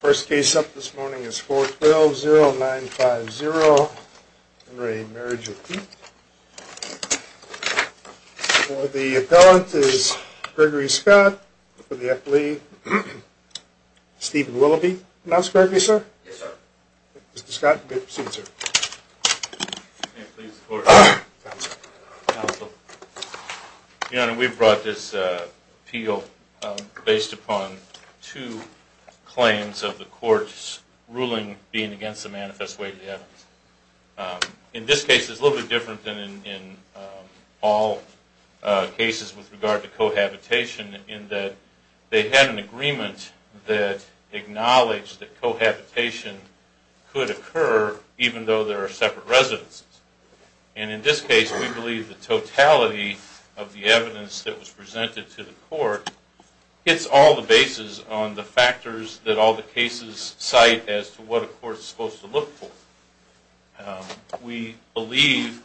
First case up this morning is 4-12-0950 Henry, Marriage of Wheat. For the appellant is Gregory Scott, for the affiliate Stephen Willoughby. Can I ask Gregory, sir? Yes, sir. Mr. Scott, good to see you, sir. Can I please support? Council. Council. Your Honor, we brought this appeal based upon two claims of the court's ruling being against the manifest way of the evidence. In this case, it's a little bit different than in all cases with regard to cohabitation, in that they had an agreement that acknowledged that cohabitation could occur even though there are separate residences. And in this case, we believe the totality of the evidence that was hits all the bases on the factors that all the cases cite as to what a court is supposed to look for. We believe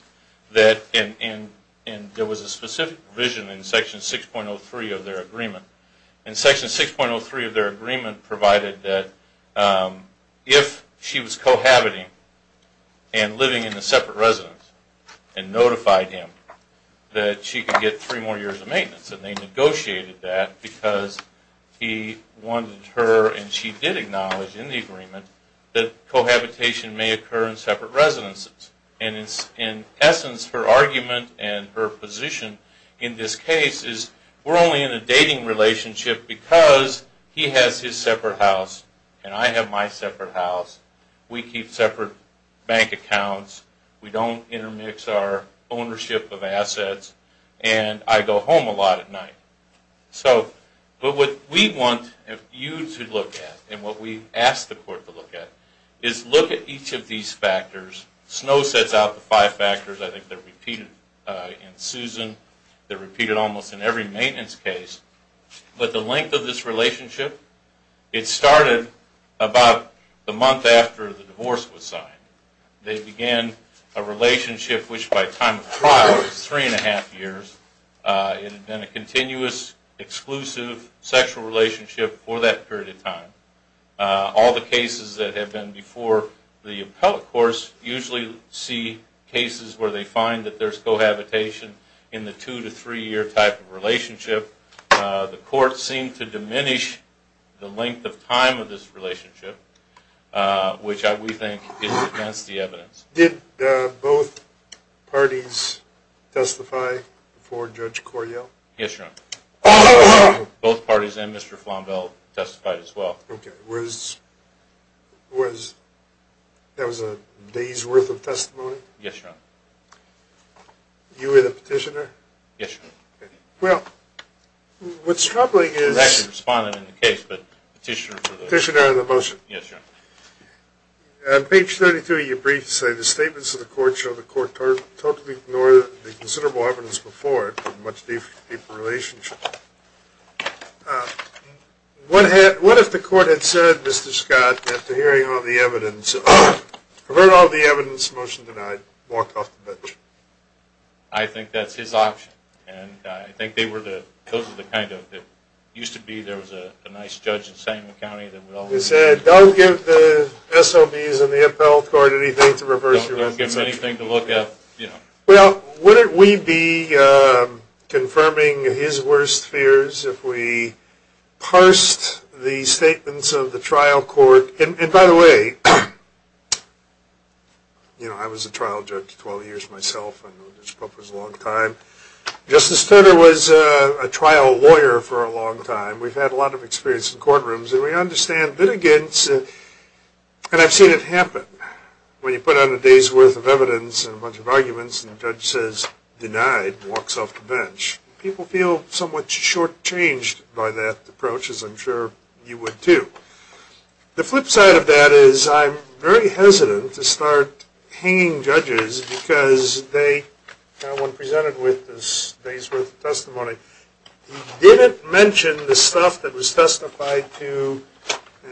that, and there was a specific provision in Section 6.03 of their agreement, and Section 6.03 of their agreement provided that if she was cohabiting and living in a separate residence and notified him that she could get three more years of maintenance, and they negotiated that because he wanted her and she did acknowledge in the agreement that cohabitation may occur in separate residences. And in essence, her argument and her position in this case is we're only in a dating relationship because he has his separate house and I have my separate house. We keep separate bank accounts. We don't intermix our accounts at night. But what we want you to look at and what we ask the court to look at is look at each of these factors. Snow sets out the five factors. I think they're repeated in Susan. They're repeated almost in every maintenance case. But the length of this relationship, it started about the month after the divorce was signed. They began a relationship which by time of trial was a continuous, exclusive sexual relationship for that period of time. All the cases that have been before the appellate course usually see cases where they find that there's cohabitation in the two to three year type of relationship. The court seemed to diminish the length of time of this relationship, which we think is against the evidence. Did both parties testify before Judge Coryell? Yes, Your Honor. Both parties and Mr. Flombelle testified as well. Okay. That was a day's worth of testimony? Yes, Your Honor. You were the petitioner? Yes, Your Honor. Okay. Well, what's troubling is... I'm actually responding in the case, but petitioner for the... Petitioner on the motion. Yes, Your Honor. On page 32 of your brief, you say the statements of the court show the court totally ignored the considerable evidence before it in a much deeper relationship. What if the court had said, Mr. Scott, after hearing all the evidence, I've heard all the evidence, motion denied, walked off the bench? I think that's his option, and I think they were the... Those are the kind of... It used to be there was a nice judge in Santa Ana County that would always... They said, don't give the SOBs and the appellate court anything to reverse your message. Don't give them anything to look at, you know. Well, wouldn't we be confirming his worst fears if we parsed the statements of the trial court? And by the way, you know, I was a trial judge for 12 years myself, and this book was a long time. Justice Turner was a trial lawyer for a long time. We've had a lot of experience in courtrooms, and we understand litigants, and I've seen it happen. When you put on a day's worth of evidence and a bunch of arguments, and the judge says, denied, walks off the bench, people feel somewhat short-changed by that approach, as I'm sure you would too. The flip side of that is I'm very hesitant to start hanging judges because they... The one presented with this day's worth of testimony, he didn't mention the stuff that was testified to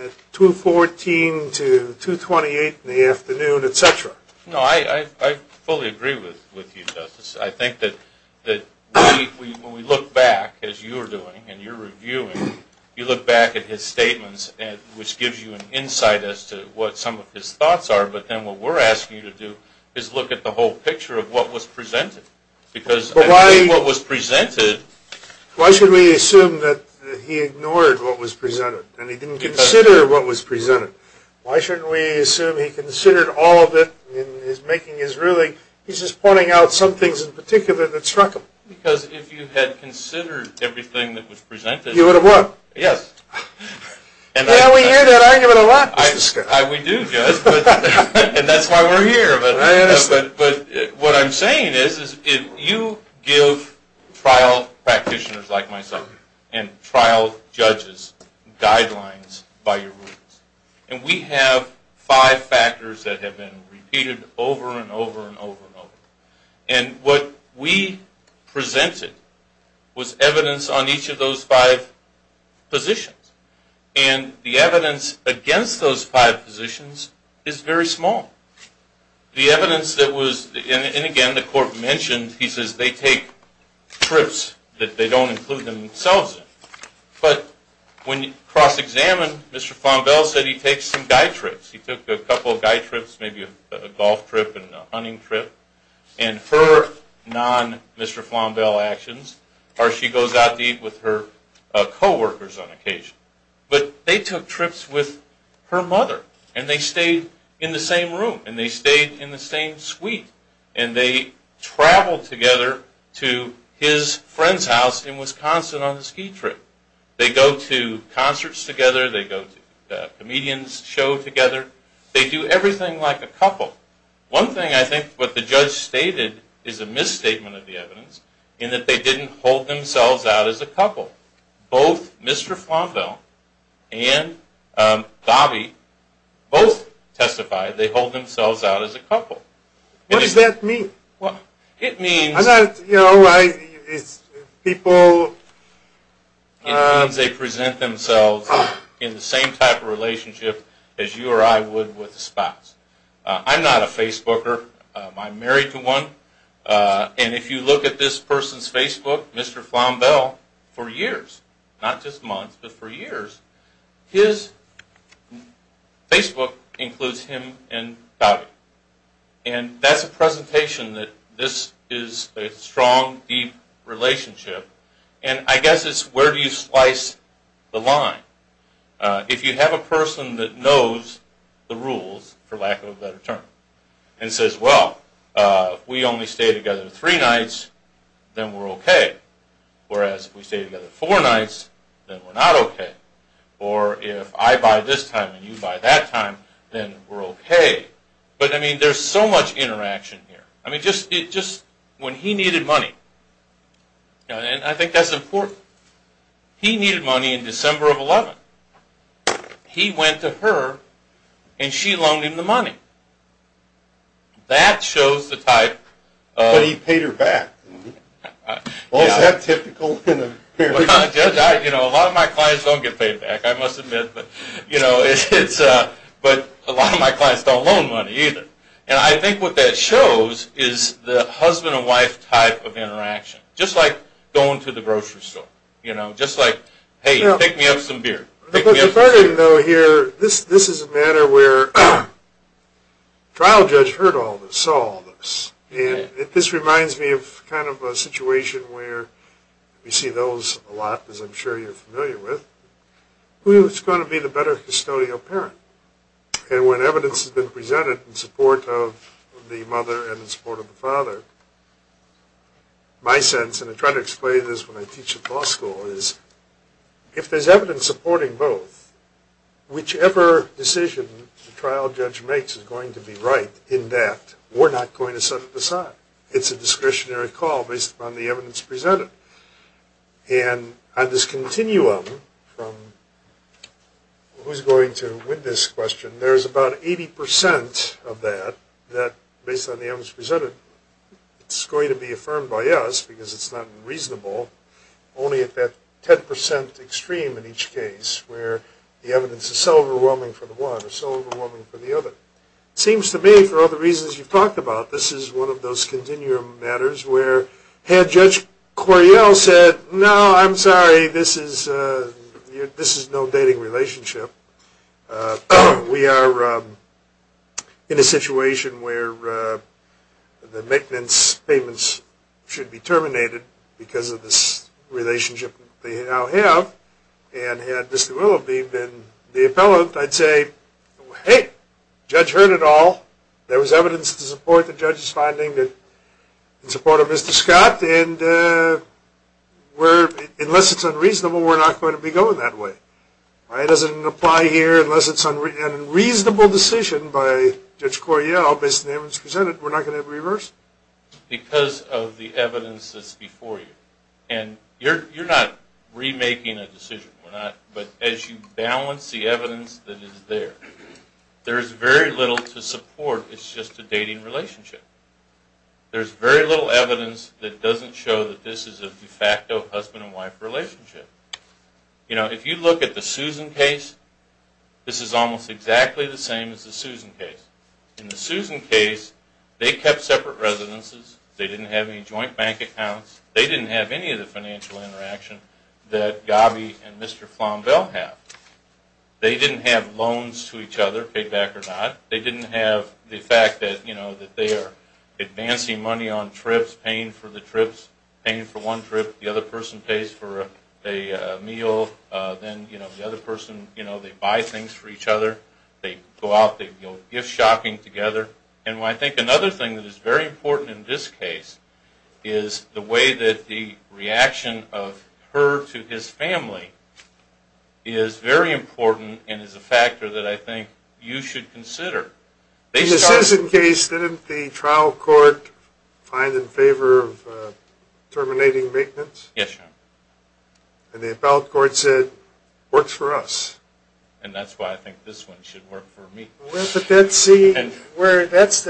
at 214 to 228 in the afternoon, etc. No, I fully agree with you, Justice. I think that when we look back, as you're doing, and you're reviewing, you look back at his statements, which gives you an insight as to what some of his thoughts are, but then what we're asking you to do is look at the whole picture of what was presented. Because what was presented... Why should we assume that he ignored what was presented, and he didn't consider what was presented? Why shouldn't we assume he considered all of it in his making? He's just pointing out some things in particular that struck him. Because if you had considered everything that was presented... You would have won. Yes. Yeah, we hear that argument a lot, Justice Kennedy. We do, Judge, and that's why we're here. But what I'm saying is, you give trial practitioners like myself, and trial judges, guidelines by your rules. And we have five factors that have been repeated over and over and over and over. And what we presented was evidence on each of those five positions. And the evidence against those five positions is very small. The evidence that was... And again, the Court mentioned, he says they take trips that they don't include themselves in. But when you cross-examine, Mr. Flombelle said he takes some guy trips. He took a couple of guy trips, maybe a golf trip and a hunting trip. And her non-Mr. Flombelle actions are she goes out to eat with her co-workers on occasion. But they took trips with her mother, and they stayed in the same room, and they stayed in the same suite, and they traveled together to his friend's house in Wisconsin on a ski trip. They go to concerts together. They go to a comedian's show together. They do everything like a couple. One thing I think what the judge stated is a misstatement of the evidence, in that they didn't hold themselves out as a couple. Both Mr. Flombelle and Bobby both testified. They hold themselves out as a couple. What does that mean? Well, it means, you know, it's people... It means they present themselves in the same type of relationship as you or I would with a spouse. I'm not a Facebooker. I'm married to one. And if you look at this person's Facebook, Mr. Flombelle, for years, not just months, but for years, his Facebook includes him and Bobby. And that's a presentation that this is a strong, deep relationship. And I guess it's where do you slice the line. If you have a person that knows the rules, for lack of a better term, and says, well, we only stay together three nights, then we're okay. Whereas if we stay together four nights, then we're not okay. Or if I buy this time and you buy that time, then we're okay. But I mean, there's so much interaction here. I mean, just when he needed money. And I think that's important. He needed money in December of 11. He went to her and she loaned him the money. That shows the type of... But he paid her back. Well, is that typical in a marriage? A lot of my clients don't get paid back, I must admit. But a lot of my clients don't loan money either. And I think what that shows is the husband and wife type of interaction. Just like going to the grocery store. Just like, hey, pick me up some beer. If I didn't know here, this is a matter where trial judge heard all this, saw all this. And this reminds me of kind of a situation where we see those a lot, as I'm sure you're familiar with. Who's going to be the better custodial parent? And when evidence has been presented in support of the mother and in support of the father, my sense, and I try to explain this when I teach at law school, is if there's evidence supporting both, whichever decision the trial judge makes is going to be right in that we're not going to set it aside. It's a discretionary call based upon the evidence presented. And on this continuum from who's going to win this question, there's about 80 percent of that, that based on the evidence presented, it's going to be affirmed by us because it's not reasonable only at that 10 percent extreme in each case where the evidence is so overwhelming for the one or so overwhelming for the other. It seems to me, for all the reasons you've talked about, this is one of those continuum matters where had Judge Coryell said, no, I'm sorry, this is no dating relationship, we are in a situation where the maintenance payments should be terminated because of this relationship they now have, and had Mr. Willoughby been the appellant, I'd say, hey, Judge heard it all. There was evidence to support the judge's finding that in support of Mr. Scott, and unless it's unreasonable, we're not going to be going that way. It doesn't apply here unless it's an unreasonable decision by Judge Coryell based on the evidence that's before you. You're not remaking a decision, but as you balance the evidence that is there, there's very little to support it's just a dating relationship. There's very little evidence that doesn't show that this is a de facto husband and wife relationship. If you look at the Susan case, this is almost exactly the same as the Susan case. In the Susan case, they kept separate residences, they didn't have any joint bank accounts, they didn't have any of the financial interaction that Gobby and Mr. Flombelle have. They didn't have loans to each other, paid back or not. They didn't have the fact that they are advancing money on trips, paying for the trips, paying for one trip, the other person pays for a meal, then the other person, they buy things for each other, they go out, they go gift shopping together. And I think another thing that is very important in this case is the way that the reaction of her to his family is very important and is a factor that I think you should consider. In the Susan case, didn't the trial court find in favor of terminating maintenance? Yes, Your Honor. And the appellate court said, works for us. And that's why I think this one should work for me. Well, that's the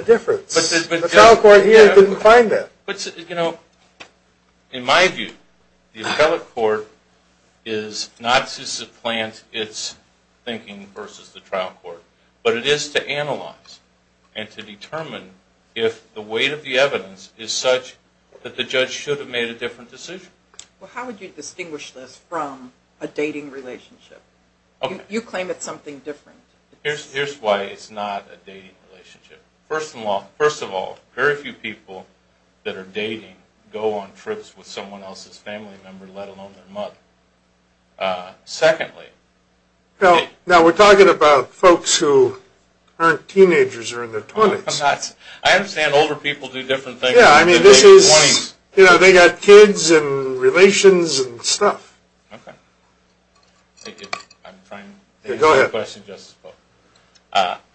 difference. The trial court here didn't find that. In my view, the appellate court is not to supplant its thinking versus the trial court, but it is to analyze and to determine if the weight of the evidence is such that the judge should have made a different decision. Well, how would you distinguish this from a dating relationship? You claim it's something different. Here's why it's not a dating relationship. First of all, very few people that are dating go on trips with someone else's family member, let alone their mother. Secondly... Now we're talking about folks who aren't teenagers or in their twenties. They've got kids and relations and stuff.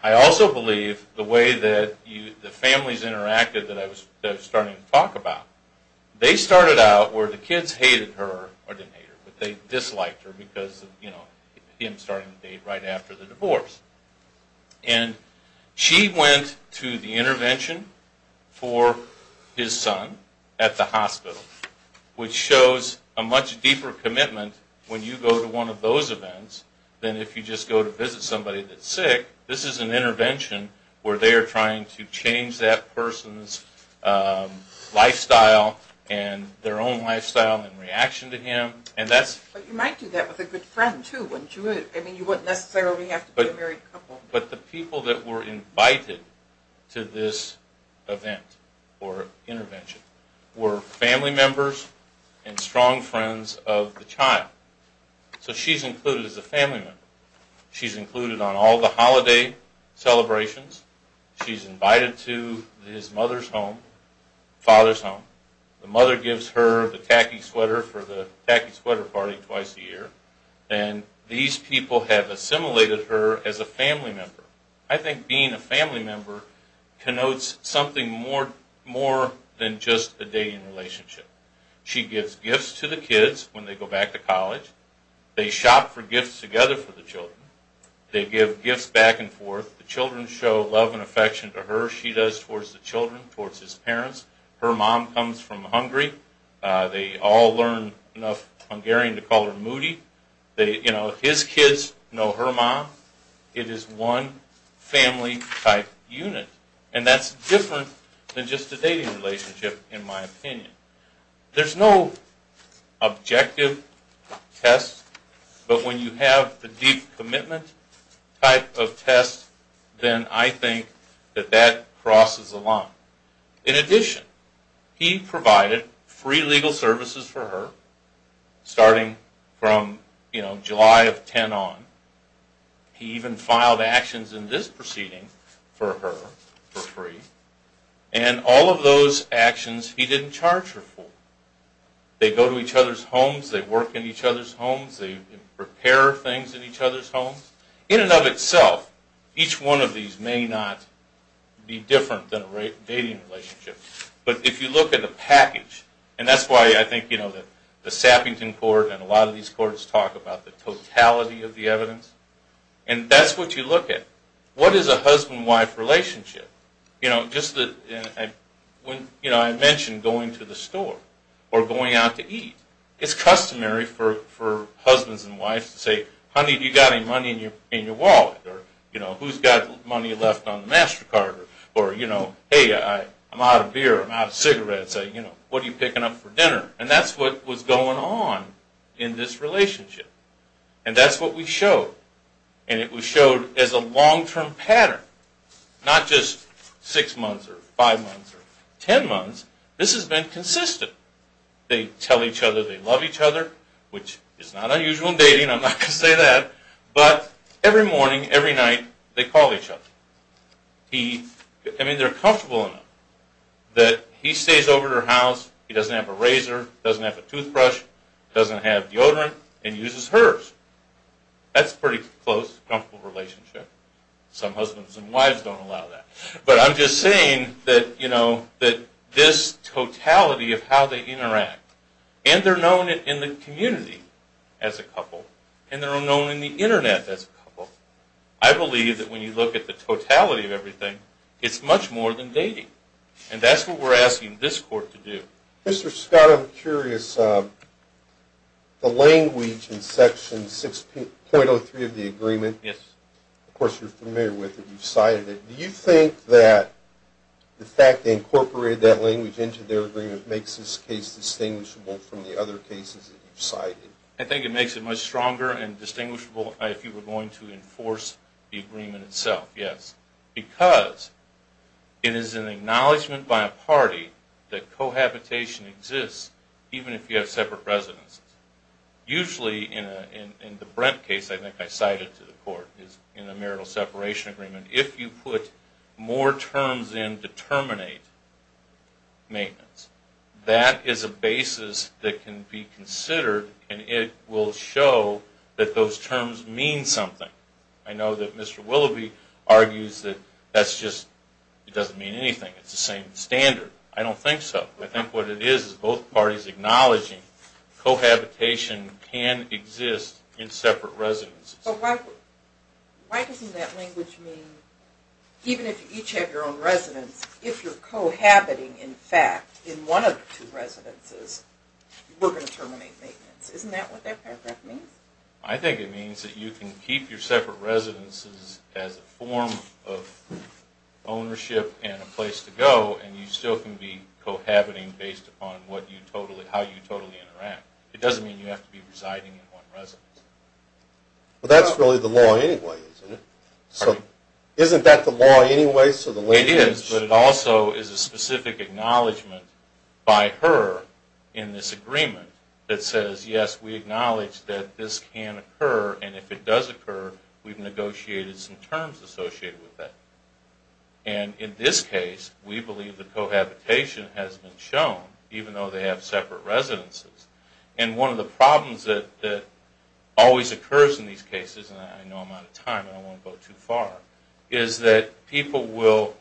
I also believe the way that the families interacted that I was starting to talk about, they started out where the kids hated her or didn't hate her, but they disliked her because it was him starting the date right after the divorce. And she went to the intervention for his son at the hospital, which shows a much deeper commitment when you go to one of those events than if you just go to visit somebody that's sick. This is an intervention where they are trying to change that person's lifestyle and their own lifestyle and reaction to him. But you might do that with a good friend too, wouldn't you? You wouldn't necessarily have to be a married couple. But the people that were invited to this event or intervention were family members and strong friends of the child. So she's included as a family member. She's included on all the holiday celebrations. She's invited to his mother's home, father's home. The mother gives her the tacky sweater for the tacky sweater party twice a year. And these people have assimilated her as a family member. I think being a family member connotes something more than just a dating relationship. She gives gifts to the kids when they go back to college. They shop for gifts together for the children. They give gifts back and forth. The children show love and affection to her. She does towards the children, towards his parents. Her mom comes from Hungary. They all learn enough Hungarian to call her Moody. You know, his kids know her mom. It is one family type unit. And that's different than just a dating relationship in my opinion. There's no objective test, but when you have the deep commitment type of test, then I think that that crosses the line. In addition, he provided free legal services for her starting from, you know, July of 10 on. He even filed actions in this proceeding for her for free. And all of those actions he didn't charge her for. They go to each other's homes. They work in each other's homes. They prepare things in each other's homes. In and of itself, each one of these may not be different than a dating relationship. But if you look at the package, and that's why I think, you know, the Sappington Court and a lot of these courts talk about the totality of the evidence. And that's what you look at. What is a husband-wife relationship? You know, I mentioned going to the store or going out to eat. It's customary for husbands and wives to say, honey, do you got any money in your wallet? Or, you know, who's got money left on the MasterCard? Or, you know, hey, I'm out of beer. I'm out of cigarettes. You know, what are you picking up for dinner? And that's what was going on in this relationship. And that's what we showed. And it was showed as a long-term pattern. Not just six months or five months or ten months. This has been consistent. They tell each other they love each other, which is not unusual in dating. I'm not going to say that. But every morning, every night, they call each other. I mean, they're comfortable enough that he stays over at her house. He doesn't have a toothbrush. He doesn't have deodorant. And he uses hers. That's a pretty close, comfortable relationship. Some husbands and wives don't allow that. But I'm just saying that, you know, that this totality of how they interact. And they're known in the community as a couple. And they're known in the internet as a couple. I believe that when you look at the totality of everything, it's much more than dating. And that's what we're asking this court to do. Mr. Scott, I'm curious. The language in Section 6.03 of the agreement, of course, you're familiar with it. You've cited it. Do you think that the fact they incorporated that language into their agreement makes this case distinguishable from the other cases that you've cited? I think it makes it much stronger and distinguishable if you were going to enforce the agreement itself, yes. Because it is an acknowledgment by a party that cohabitation exists even if you have separate residences. Usually in the Brent case, I think I cited to the court, is in a marital separation agreement, if you put more terms in to terminate maintenance, that is a basis that can be considered and it will show that those terms mean something. I know that Mr. Willoughby argues that that's just, it doesn't mean anything. It's the same standard. I don't think so. I think what it is is both parties acknowledging cohabitation can exist in separate residences. But why doesn't that language mean even if you each have your own residence, if you're cohabiting in fact in one of the two residences, we're going to terminate maintenance. Isn't that what that paragraph means? I think it means that you can keep your separate residences as a form of ownership and a place to go and you still can be cohabiting based upon what you totally, how you totally interact. It doesn't mean you have to be residing in one residence. But that's really the law anyway, isn't it? So isn't that the law anyway? It is, but it also is a specific acknowledgement by her in this agreement that says, yes, we acknowledge that this can occur and if it does occur, we've negotiated some terms associated with that. And in this case, we believe that cohabitation has been shown even though they have separate residences. And one of the problems that always occurs in these cases, and I know I'm going to say this, people will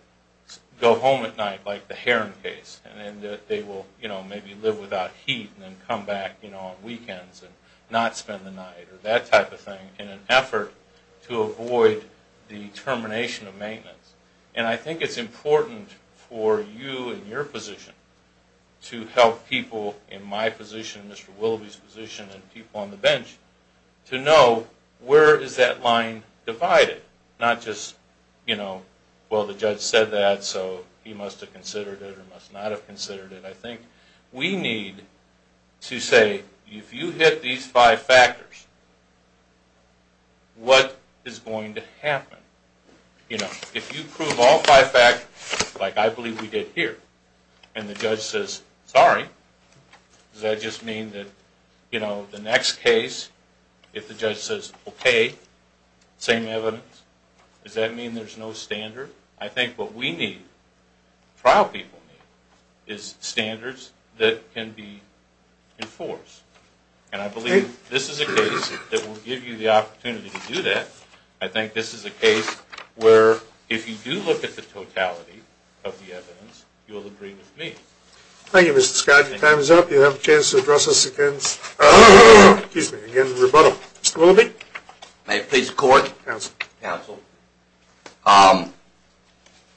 go home at night like the Heron case and they will maybe live without heat and then come back on weekends and not spend the night or that type of thing in an effort to avoid the termination of maintenance. And I think it's important for you and your position to help people in my position, Mr. Willoughby's position, and people on the bench to know where is that line divided, not just, you know, well the judge said that so he must have considered it or must not have considered it. I think we need to say if you hit these five factors, what is going to happen? You know, if you prove all five facts like I believe we did here and the judge says sorry, does that just mean that, you know, the next case if the judge says okay, same evidence, does that mean there's no standard? I think what we need, trial people need, is standards that can be enforced. And I believe this is a case that will give you the opportunity to do that. I think this is a case where if you do look at the totality of the evidence, you'll agree with me. Thank you, Mr. Scott. Your time is up. You have a chance to address us again, excuse me, again in rebuttal. Mr. Willoughby? May it please the court? Counsel. Counsel.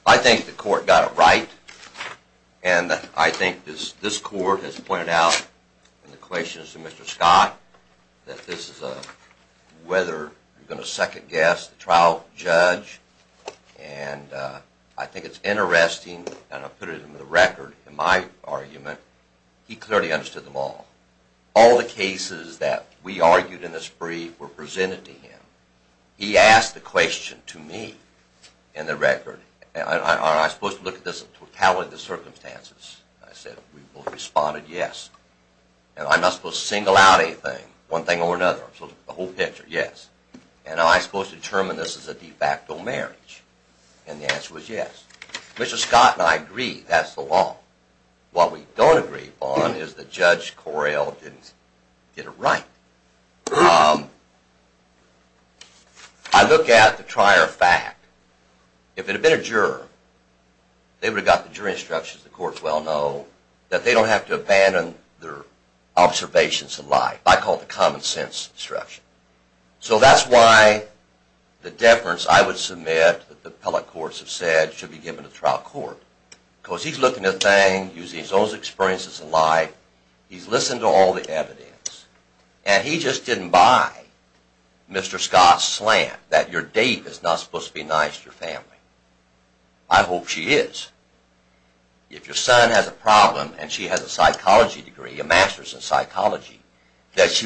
I think the court got it right and I think this court has pointed out in the questions to Mr. Scott that this is a, whether you're going to second guess the trial judge and I think it's interesting and I put it in the record in my argument, he clearly understood them all. All the cases that we argued in this brief were presented to him. He asked the question to me in the record, are I supposed to look at this totality of the circumstances? I said we both responded yes. And I'm not supposed to single out anything, one thing or another, so the whole marriage. And the answer was yes. Mr. Scott and I agree, that's the law. What we don't agree on is that Judge Correll didn't get it right. I look at the prior fact. If it had been a juror, they would have got the jury instructions, the courts well know, that they don't have to abandon their observations of life. I call it the common sense instruction. So that's why the deference I would submit that the appellate courts have said should be given to trial court because he's looking at things using his own experiences in life, he's listened to all the evidence, and he just didn't buy Mr. Scott's slant that your date is not supposed to be nice to your family. I hope she is. If your son has a problem and she has a psychology degree, a master's in psychology, that's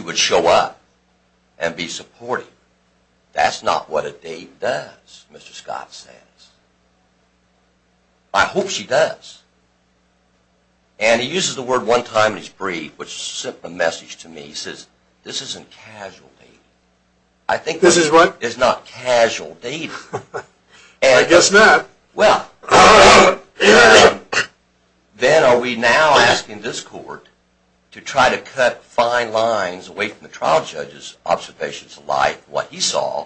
not what a date does, Mr. Scott says. I hope she does. And he uses the word one time in his brief which sent the message to me, he says this isn't casual dating. I think this is what is not casual dating. I guess not. Well, then are we now asking this court to try to cut fine lines away from the trial judge's observations of life, what he saw,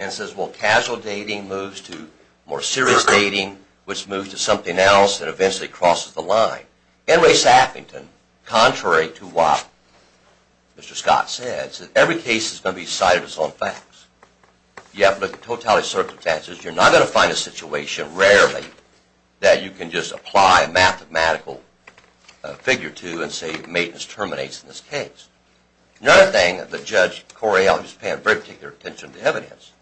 and says well casual dating moves to more serious dating which moves to something else that eventually crosses the line. N. Ray Saffington, contrary to what Mr. Scott said, said every case is going to be decided with its own facts. You have to look at totality of circumstances. You're not going to find a situation rarely that you can just apply a mathematical figure to and say maintenance terminates in this case. Another thing that Judge Correale was paying very particular attention to evidence,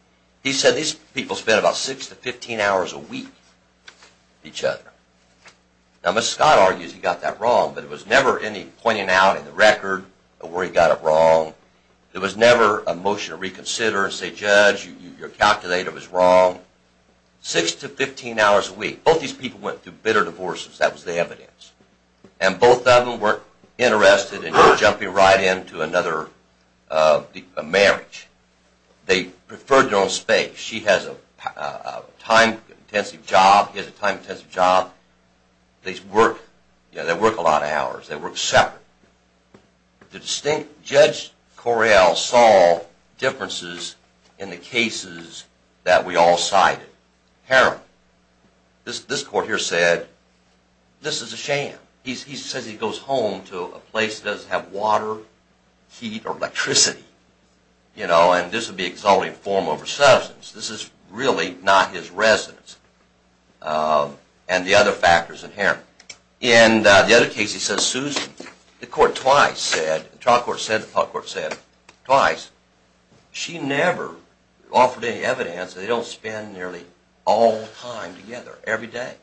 he said these people spent about 6 to 15 hours a week with each other. Now Mr. Scott argues he got that wrong, but it was never any pointing out in the record of where he got it wrong. There was never a motion to reconsider and say judge your calculator was wrong. 6 to 15 hours a week, both these people went through bitter divorces, that was the evidence, and both of them weren't interested in jumping right into another marriage. They preferred their own space. She has a time-intensive job, he has a time-intensive job, they work a lot of hours, they work separate. The distinct Judge Correale saw differences in the cases that we all cited. Harrim, this court here said this is a sham. He says he goes home to a place that doesn't have water, heat, or electricity, and this would be exalting form over substance. This is really not his residence and the other factors in Harrim. In the other case he says Susan, the court twice said, the trial court said, the public court said twice, she never offered any evidence, they don't spend nearly all the time together every day,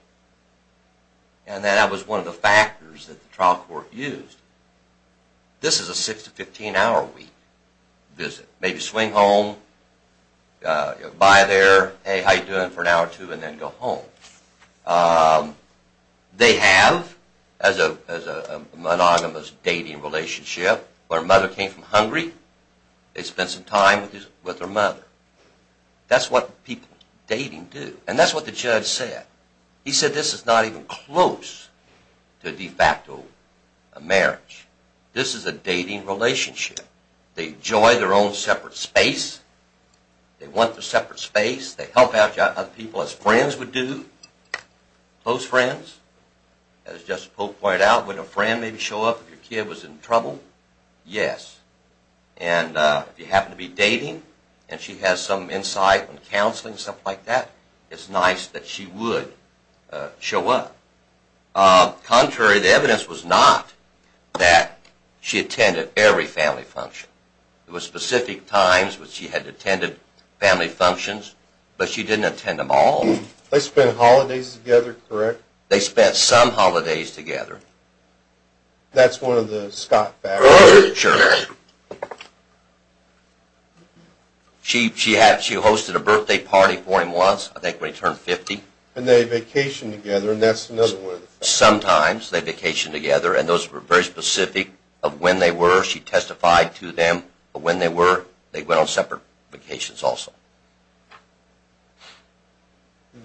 and that was one of the factors that the trial court used. This is a 6 to 15 hour week visit. Maybe swing home, go by there, hey how you doing for an hour or two, and then go home. They have, as a monogamous dating relationship, where a mother came from hungry, they spent some time with her mother. That's what people dating do, and that's what the judge said. He said this is not even close to de facto marriage. This is a dating relationship. They enjoy their own separate space, they want their separate space, they help out other people as friends would do, close friends. As Justice Polk pointed out, would a friend maybe show up if your kid was in trouble? Yes. And if you happen to be dating and she has some insight in counseling and stuff like that, it's nice that she would show up. Contrary, the evidence was not that she attended every family function. There were specific times when she had attended family functions, but she didn't attend them all. They spent holidays together, correct? They spent some holidays together. That's one of the Scott factors. Sure. She hosted a birthday party for him once, I think when he turned 50. And they vacationed together, and that's another one of the factors. Sometimes they vacationed together, and those were very specific of when they were. She testified to them of when they were. They went on separate vacations also.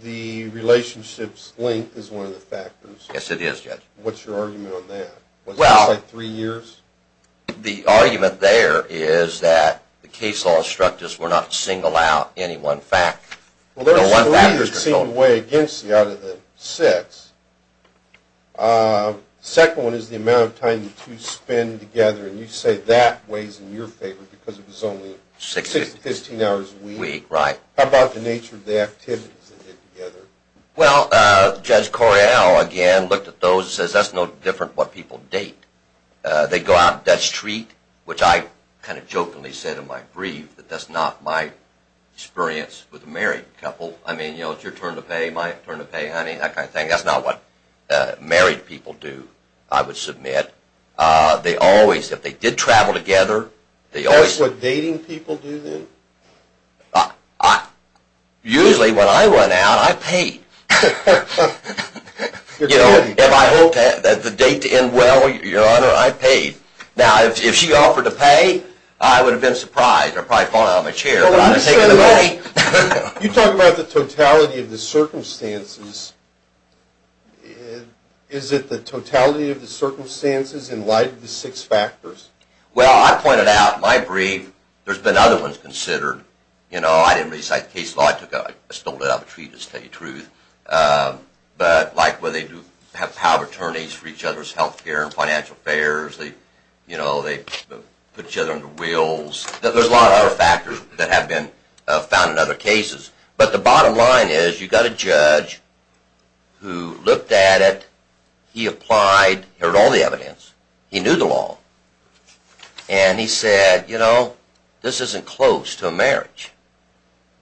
The relationship's length is one of the factors. Yes, it is, Judge. What's your argument on that? Was it just like three years? The argument there is that the case law instruct us we're not to single out any one fact. Well, there's three that seem to weigh against you out of the six. The second one is the amount of time the two spend together, and you say that weighs in your favor because it was only 6 to 15 hours a week. How about the nature of the activities they did together? Well, Judge Correale again looked at those and says that's no different what people date. They go out, that's treat, which I kind of jokingly said in my brief, that that's not my experience with a married couple. I mean, you know, it's your turn to pay, my turn to pay, honey, that kind of thing. That's not what married people do, I would submit. They always, if they did travel together, they always... That's what dating people do, then? Usually when I went out, I paid. You know, if I hoped that the date to end well, Your Honor, I paid. Now, if she offered to pay, I would have been surprised. You talk about the totality of the circumstances. Is it the totality of the circumstances in light of the six factors? Well, I pointed out in my brief, there's been other ones considered. You know, I didn't recite the case law, I stole it out of a treatise, to tell you the truth. But like where they do have power of attorneys for each other's health care and financial affairs, you know, they put each other under wheels. There's a lot of other factors that have been found in other cases. But the bottom line is, you got a judge who looked at it, he applied, heard all the evidence, he knew the law. And he said, you know, this isn't close to a marriage,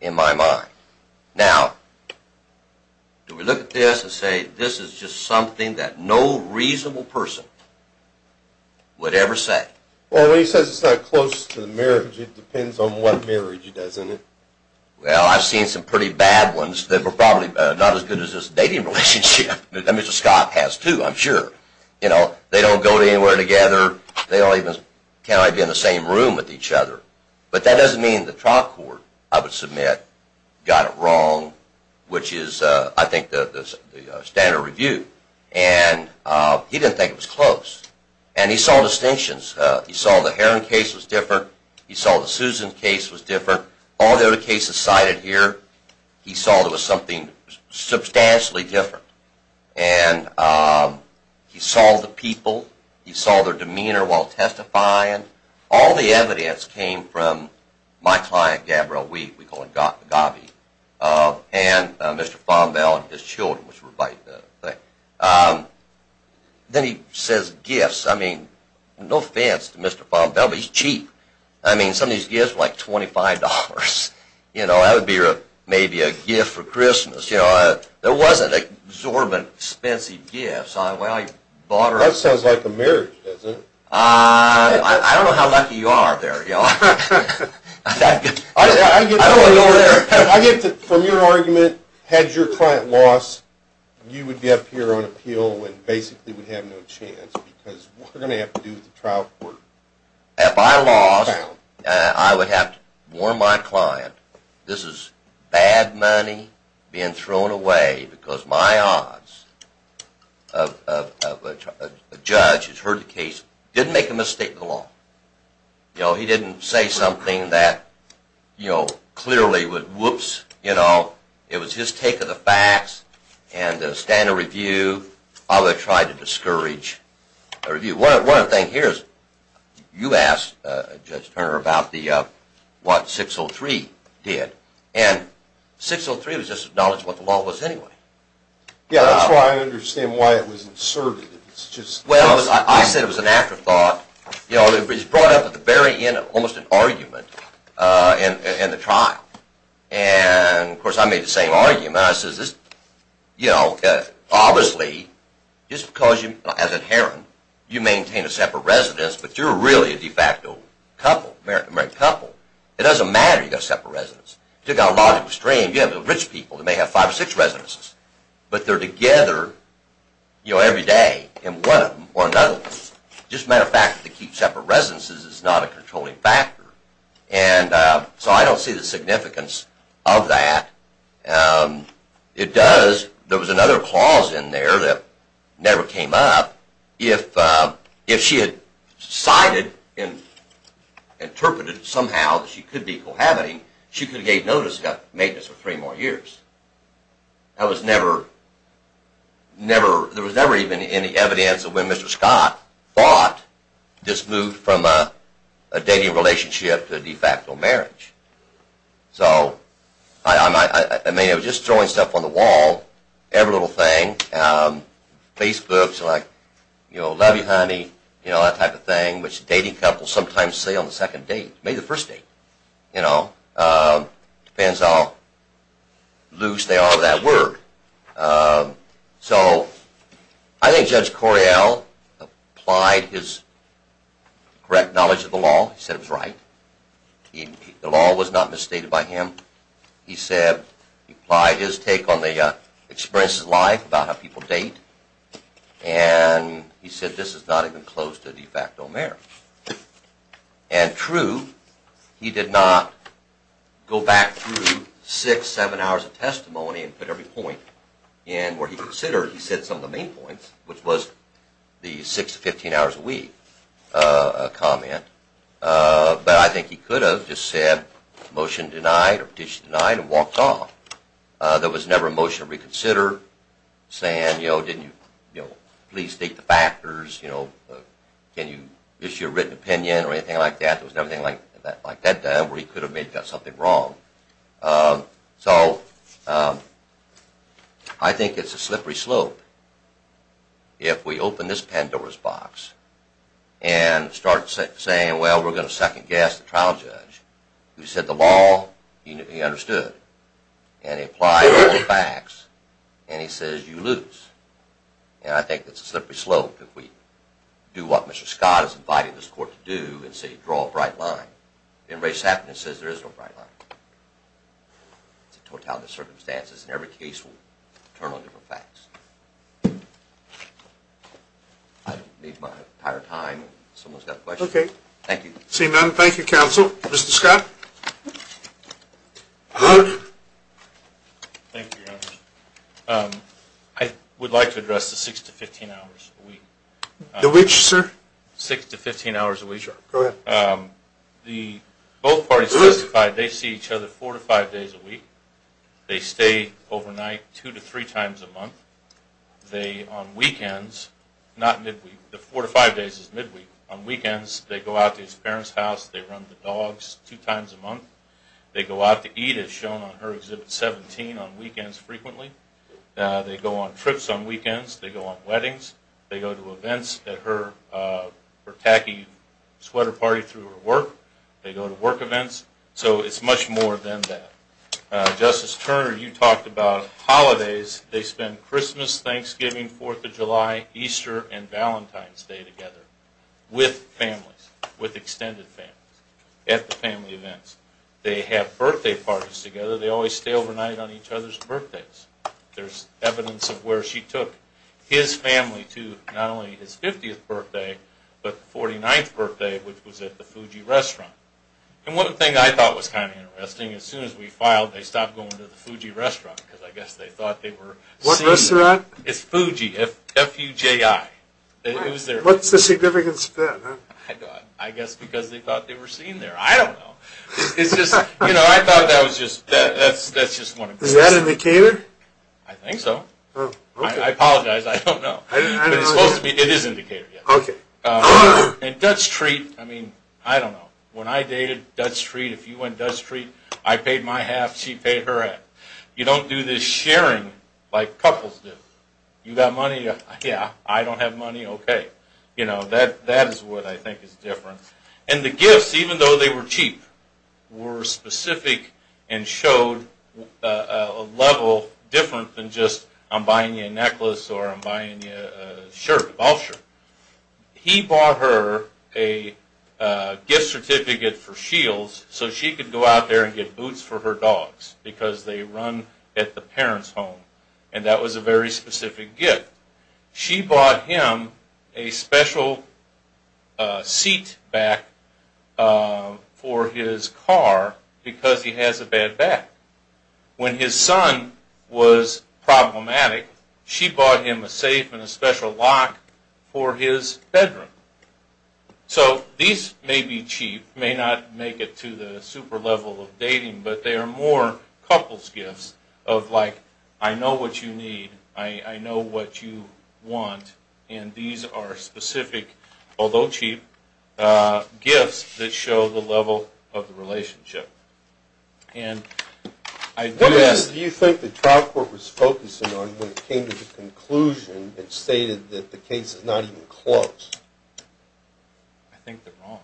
in my mind. Now, do we look at this and say, this is just something that no reasonable person would ever say? Well, when he says it's not close to a marriage, it depends on what marriage he does, doesn't it? Well, I've seen some pretty bad ones that were probably not as good as this dating relationship that Mr. Scott has too, I'm sure. You know, they don't go anywhere together, they can't even be in the same room with each other. But that doesn't mean the trial court, I would submit, got it wrong, which is, I think, the standard review. And he didn't think it was close. And he saw distinctions. He saw the Herron case was different, he saw the Susan case was different, all the other cases cited here, he saw there was something substantially different. And he saw the people, he saw their demeanor while testifying, all the evidence came from my client, Gabriel Weed, we call him Gabby, and Mr. Fombell and his children, which were right there. Then he says gifts, I mean, no offense to Mr. Fombell, but he's cheap. I mean, some of these gifts were like $25. You know, that would be maybe a gift for Christmas, you know. There wasn't exorbitant, expensive gifts. That sounds like a marriage, doesn't it? I don't know how lucky you are there, y'all. I get that from your argument, had your client lost, you would be up here on appeal and basically would have no chance, because what are they going to have to do with the trial court? If I lost, I would have to warn my client, this is bad money being thrown away, because my odds of a judge who's heard the case didn't make a mistake in the law. You know, he didn't say something that, you know, clearly would, whoops, you know, it was his take of the facts and the standard review, I would try to discourage a review. One other thing here is, you asked Judge Turner about what 603 did, and 603 was just acknowledged what the law was anyway. Yeah, that's why I understand why it was inserted. Well, I said it was an afterthought. You know, it was brought up at the very end of almost an argument in the trial. And, of course, I made the same argument, and I said, you know, obviously, just because, as inherent, you maintain a separate residence, but you're really a de facto couple, married couple, it doesn't matter you've got a separate residence. You've got a lot of extreme, you've got rich people that may have five or six residences, but they're together, you know, every day in one of them or another one. Just a matter of fact, to keep separate residences is not a controlling factor, and so I don't see the significance of that. It does, there was another clause in there that never came up. If she had decided and interpreted somehow that she could be cohabiting, she could have gave notice of maintenance for three more years. That was never, never, there was never even any evidence of when Mr. Scott thought this moved from a dating relationship to a de facto marriage. So, I mean, I was just throwing stuff on the wall, every little thing. Facebook's like, you know, love you, honey, you know, that type of thing, which dating couples sometimes say on the second date, maybe the first date, you know. Depends how loose they are with that word. So, I think Judge Correale applied his correct knowledge of the law, he said it was right, the law was not misstated by him. He said, he applied his take on the experience of life, about how people date, and he said this is not even close to a de facto marriage. And true, he did not go back through six, seven hours of testimony and put every point in where he considered, he said some of the main points, which was the six to 15 hours a week comment. But I think he could have just said, motion denied, petition denied, and walked off. There was never a motion to reconsider, saying, you know, didn't you please state the factors, you know, can you issue a written opinion or anything like that. There was never anything like that done where he could have made something wrong. So, I think it's a slippery slope. If we open this Pandora's box and start saying, well, we're going to second guess the trial judge, who said the law, he understood, and he applied all the facts, and he says, you lose. And I think it's a slippery slope if we do what Mr. Scott is inviting this court to do and say, draw a bright line. And race happiness says there is no bright line. It's a totality of circumstances, and every case will turn on different facts. I don't need my entire time. Someone's got a question? Okay. Thank you. Seeing none, thank you, counsel. Mr. Scott? Thank you, Your Honor. I would like to address the six to 15 hours a week. The which, sir? Six to 15 hours a week. Sure, go ahead. The both parties testified they see each other four to five days a week. They stay overnight two to three times a month. They, on weekends, not midweek, the four to five days is midweek. On weekends, they go out to his parents' house. They run the dogs two times a month. They go out to eat, as shown on her Exhibit 17, on weekends frequently. They go on trips on weekends. They go on weddings. They go to events at her tacky sweater party through her work. They go to work events. So it's much more than that. Justice Turner, you talked about holidays. They spend Christmas, Thanksgiving, Fourth of July, Easter, and Valentine's Day together with families, with extended families, at the family events. They have birthday parties together. They always stay overnight on each other's birthdays. There's evidence of where she took his family not only his 50th birthday, but the 49th birthday, which was at the Fuji restaurant. And one thing I thought was kind of interesting, as soon as we filed, they stopped going to the Fuji restaurant, because I guess they thought they were seeing What restaurant? It's Fuji, F-U-J-I. What's the significance of that? I guess because they thought they were seeing there. I don't know. It's just, you know, I thought that was just, that's just one of the Is that indicated? I think so. I apologize. I don't know. It's supposed to be. It is indicated. Okay. And Dutch Treat, I mean, I don't know. When I dated Dutch Treat, if you went Dutch Treat, I paid my half, she paid her half. You don't do this sharing like couples do. You got money, yeah, I don't have money, okay. You know, that is what I think is different. And the gifts, even though they were cheap, were specific and showed a level different than just, I'm buying you a necklace or I'm buying you a shirt, a golf shirt. He bought her a gift certificate for Shields so she could go out there and get boots for her dogs because they run at the parents' home. And that was a very specific gift. She bought him a special seat back for his car because he has a bad back. When his son was problematic, she bought him a safe and a special lock for his bedroom. So these may be cheap, may not make it to the super level of dating, but they are more couples gifts of like, I know what you need. I know what you want. And these are specific, although cheap, gifts that show the level of the relationship. And I do ask... What do you think the trial court was focusing on when it came to the conclusion that stated that the case is not even closed? I think they're wrong.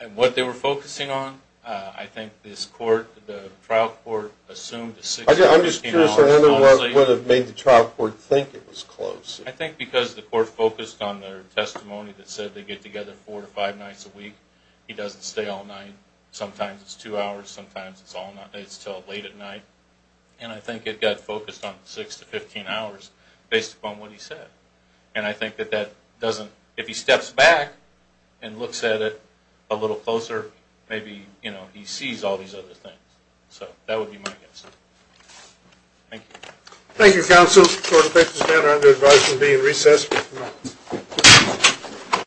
And what they were focusing on, I think this court, the trial court assumed... I'm just curious what would have made the trial court think it was closed. I think because the court focused on their testimony that said they get together four to five nights a week. He doesn't stay all night. Sometimes it's two hours. Sometimes it's till late at night. And I think it got focused on six to 15 hours based upon what he said. And I think that that doesn't... If he steps back and looks at it a little closer, maybe he sees all these other things. So that would be my guess. Thank you. Thank you, counsel. Court of Bailiffs is now under advisement of being recessed.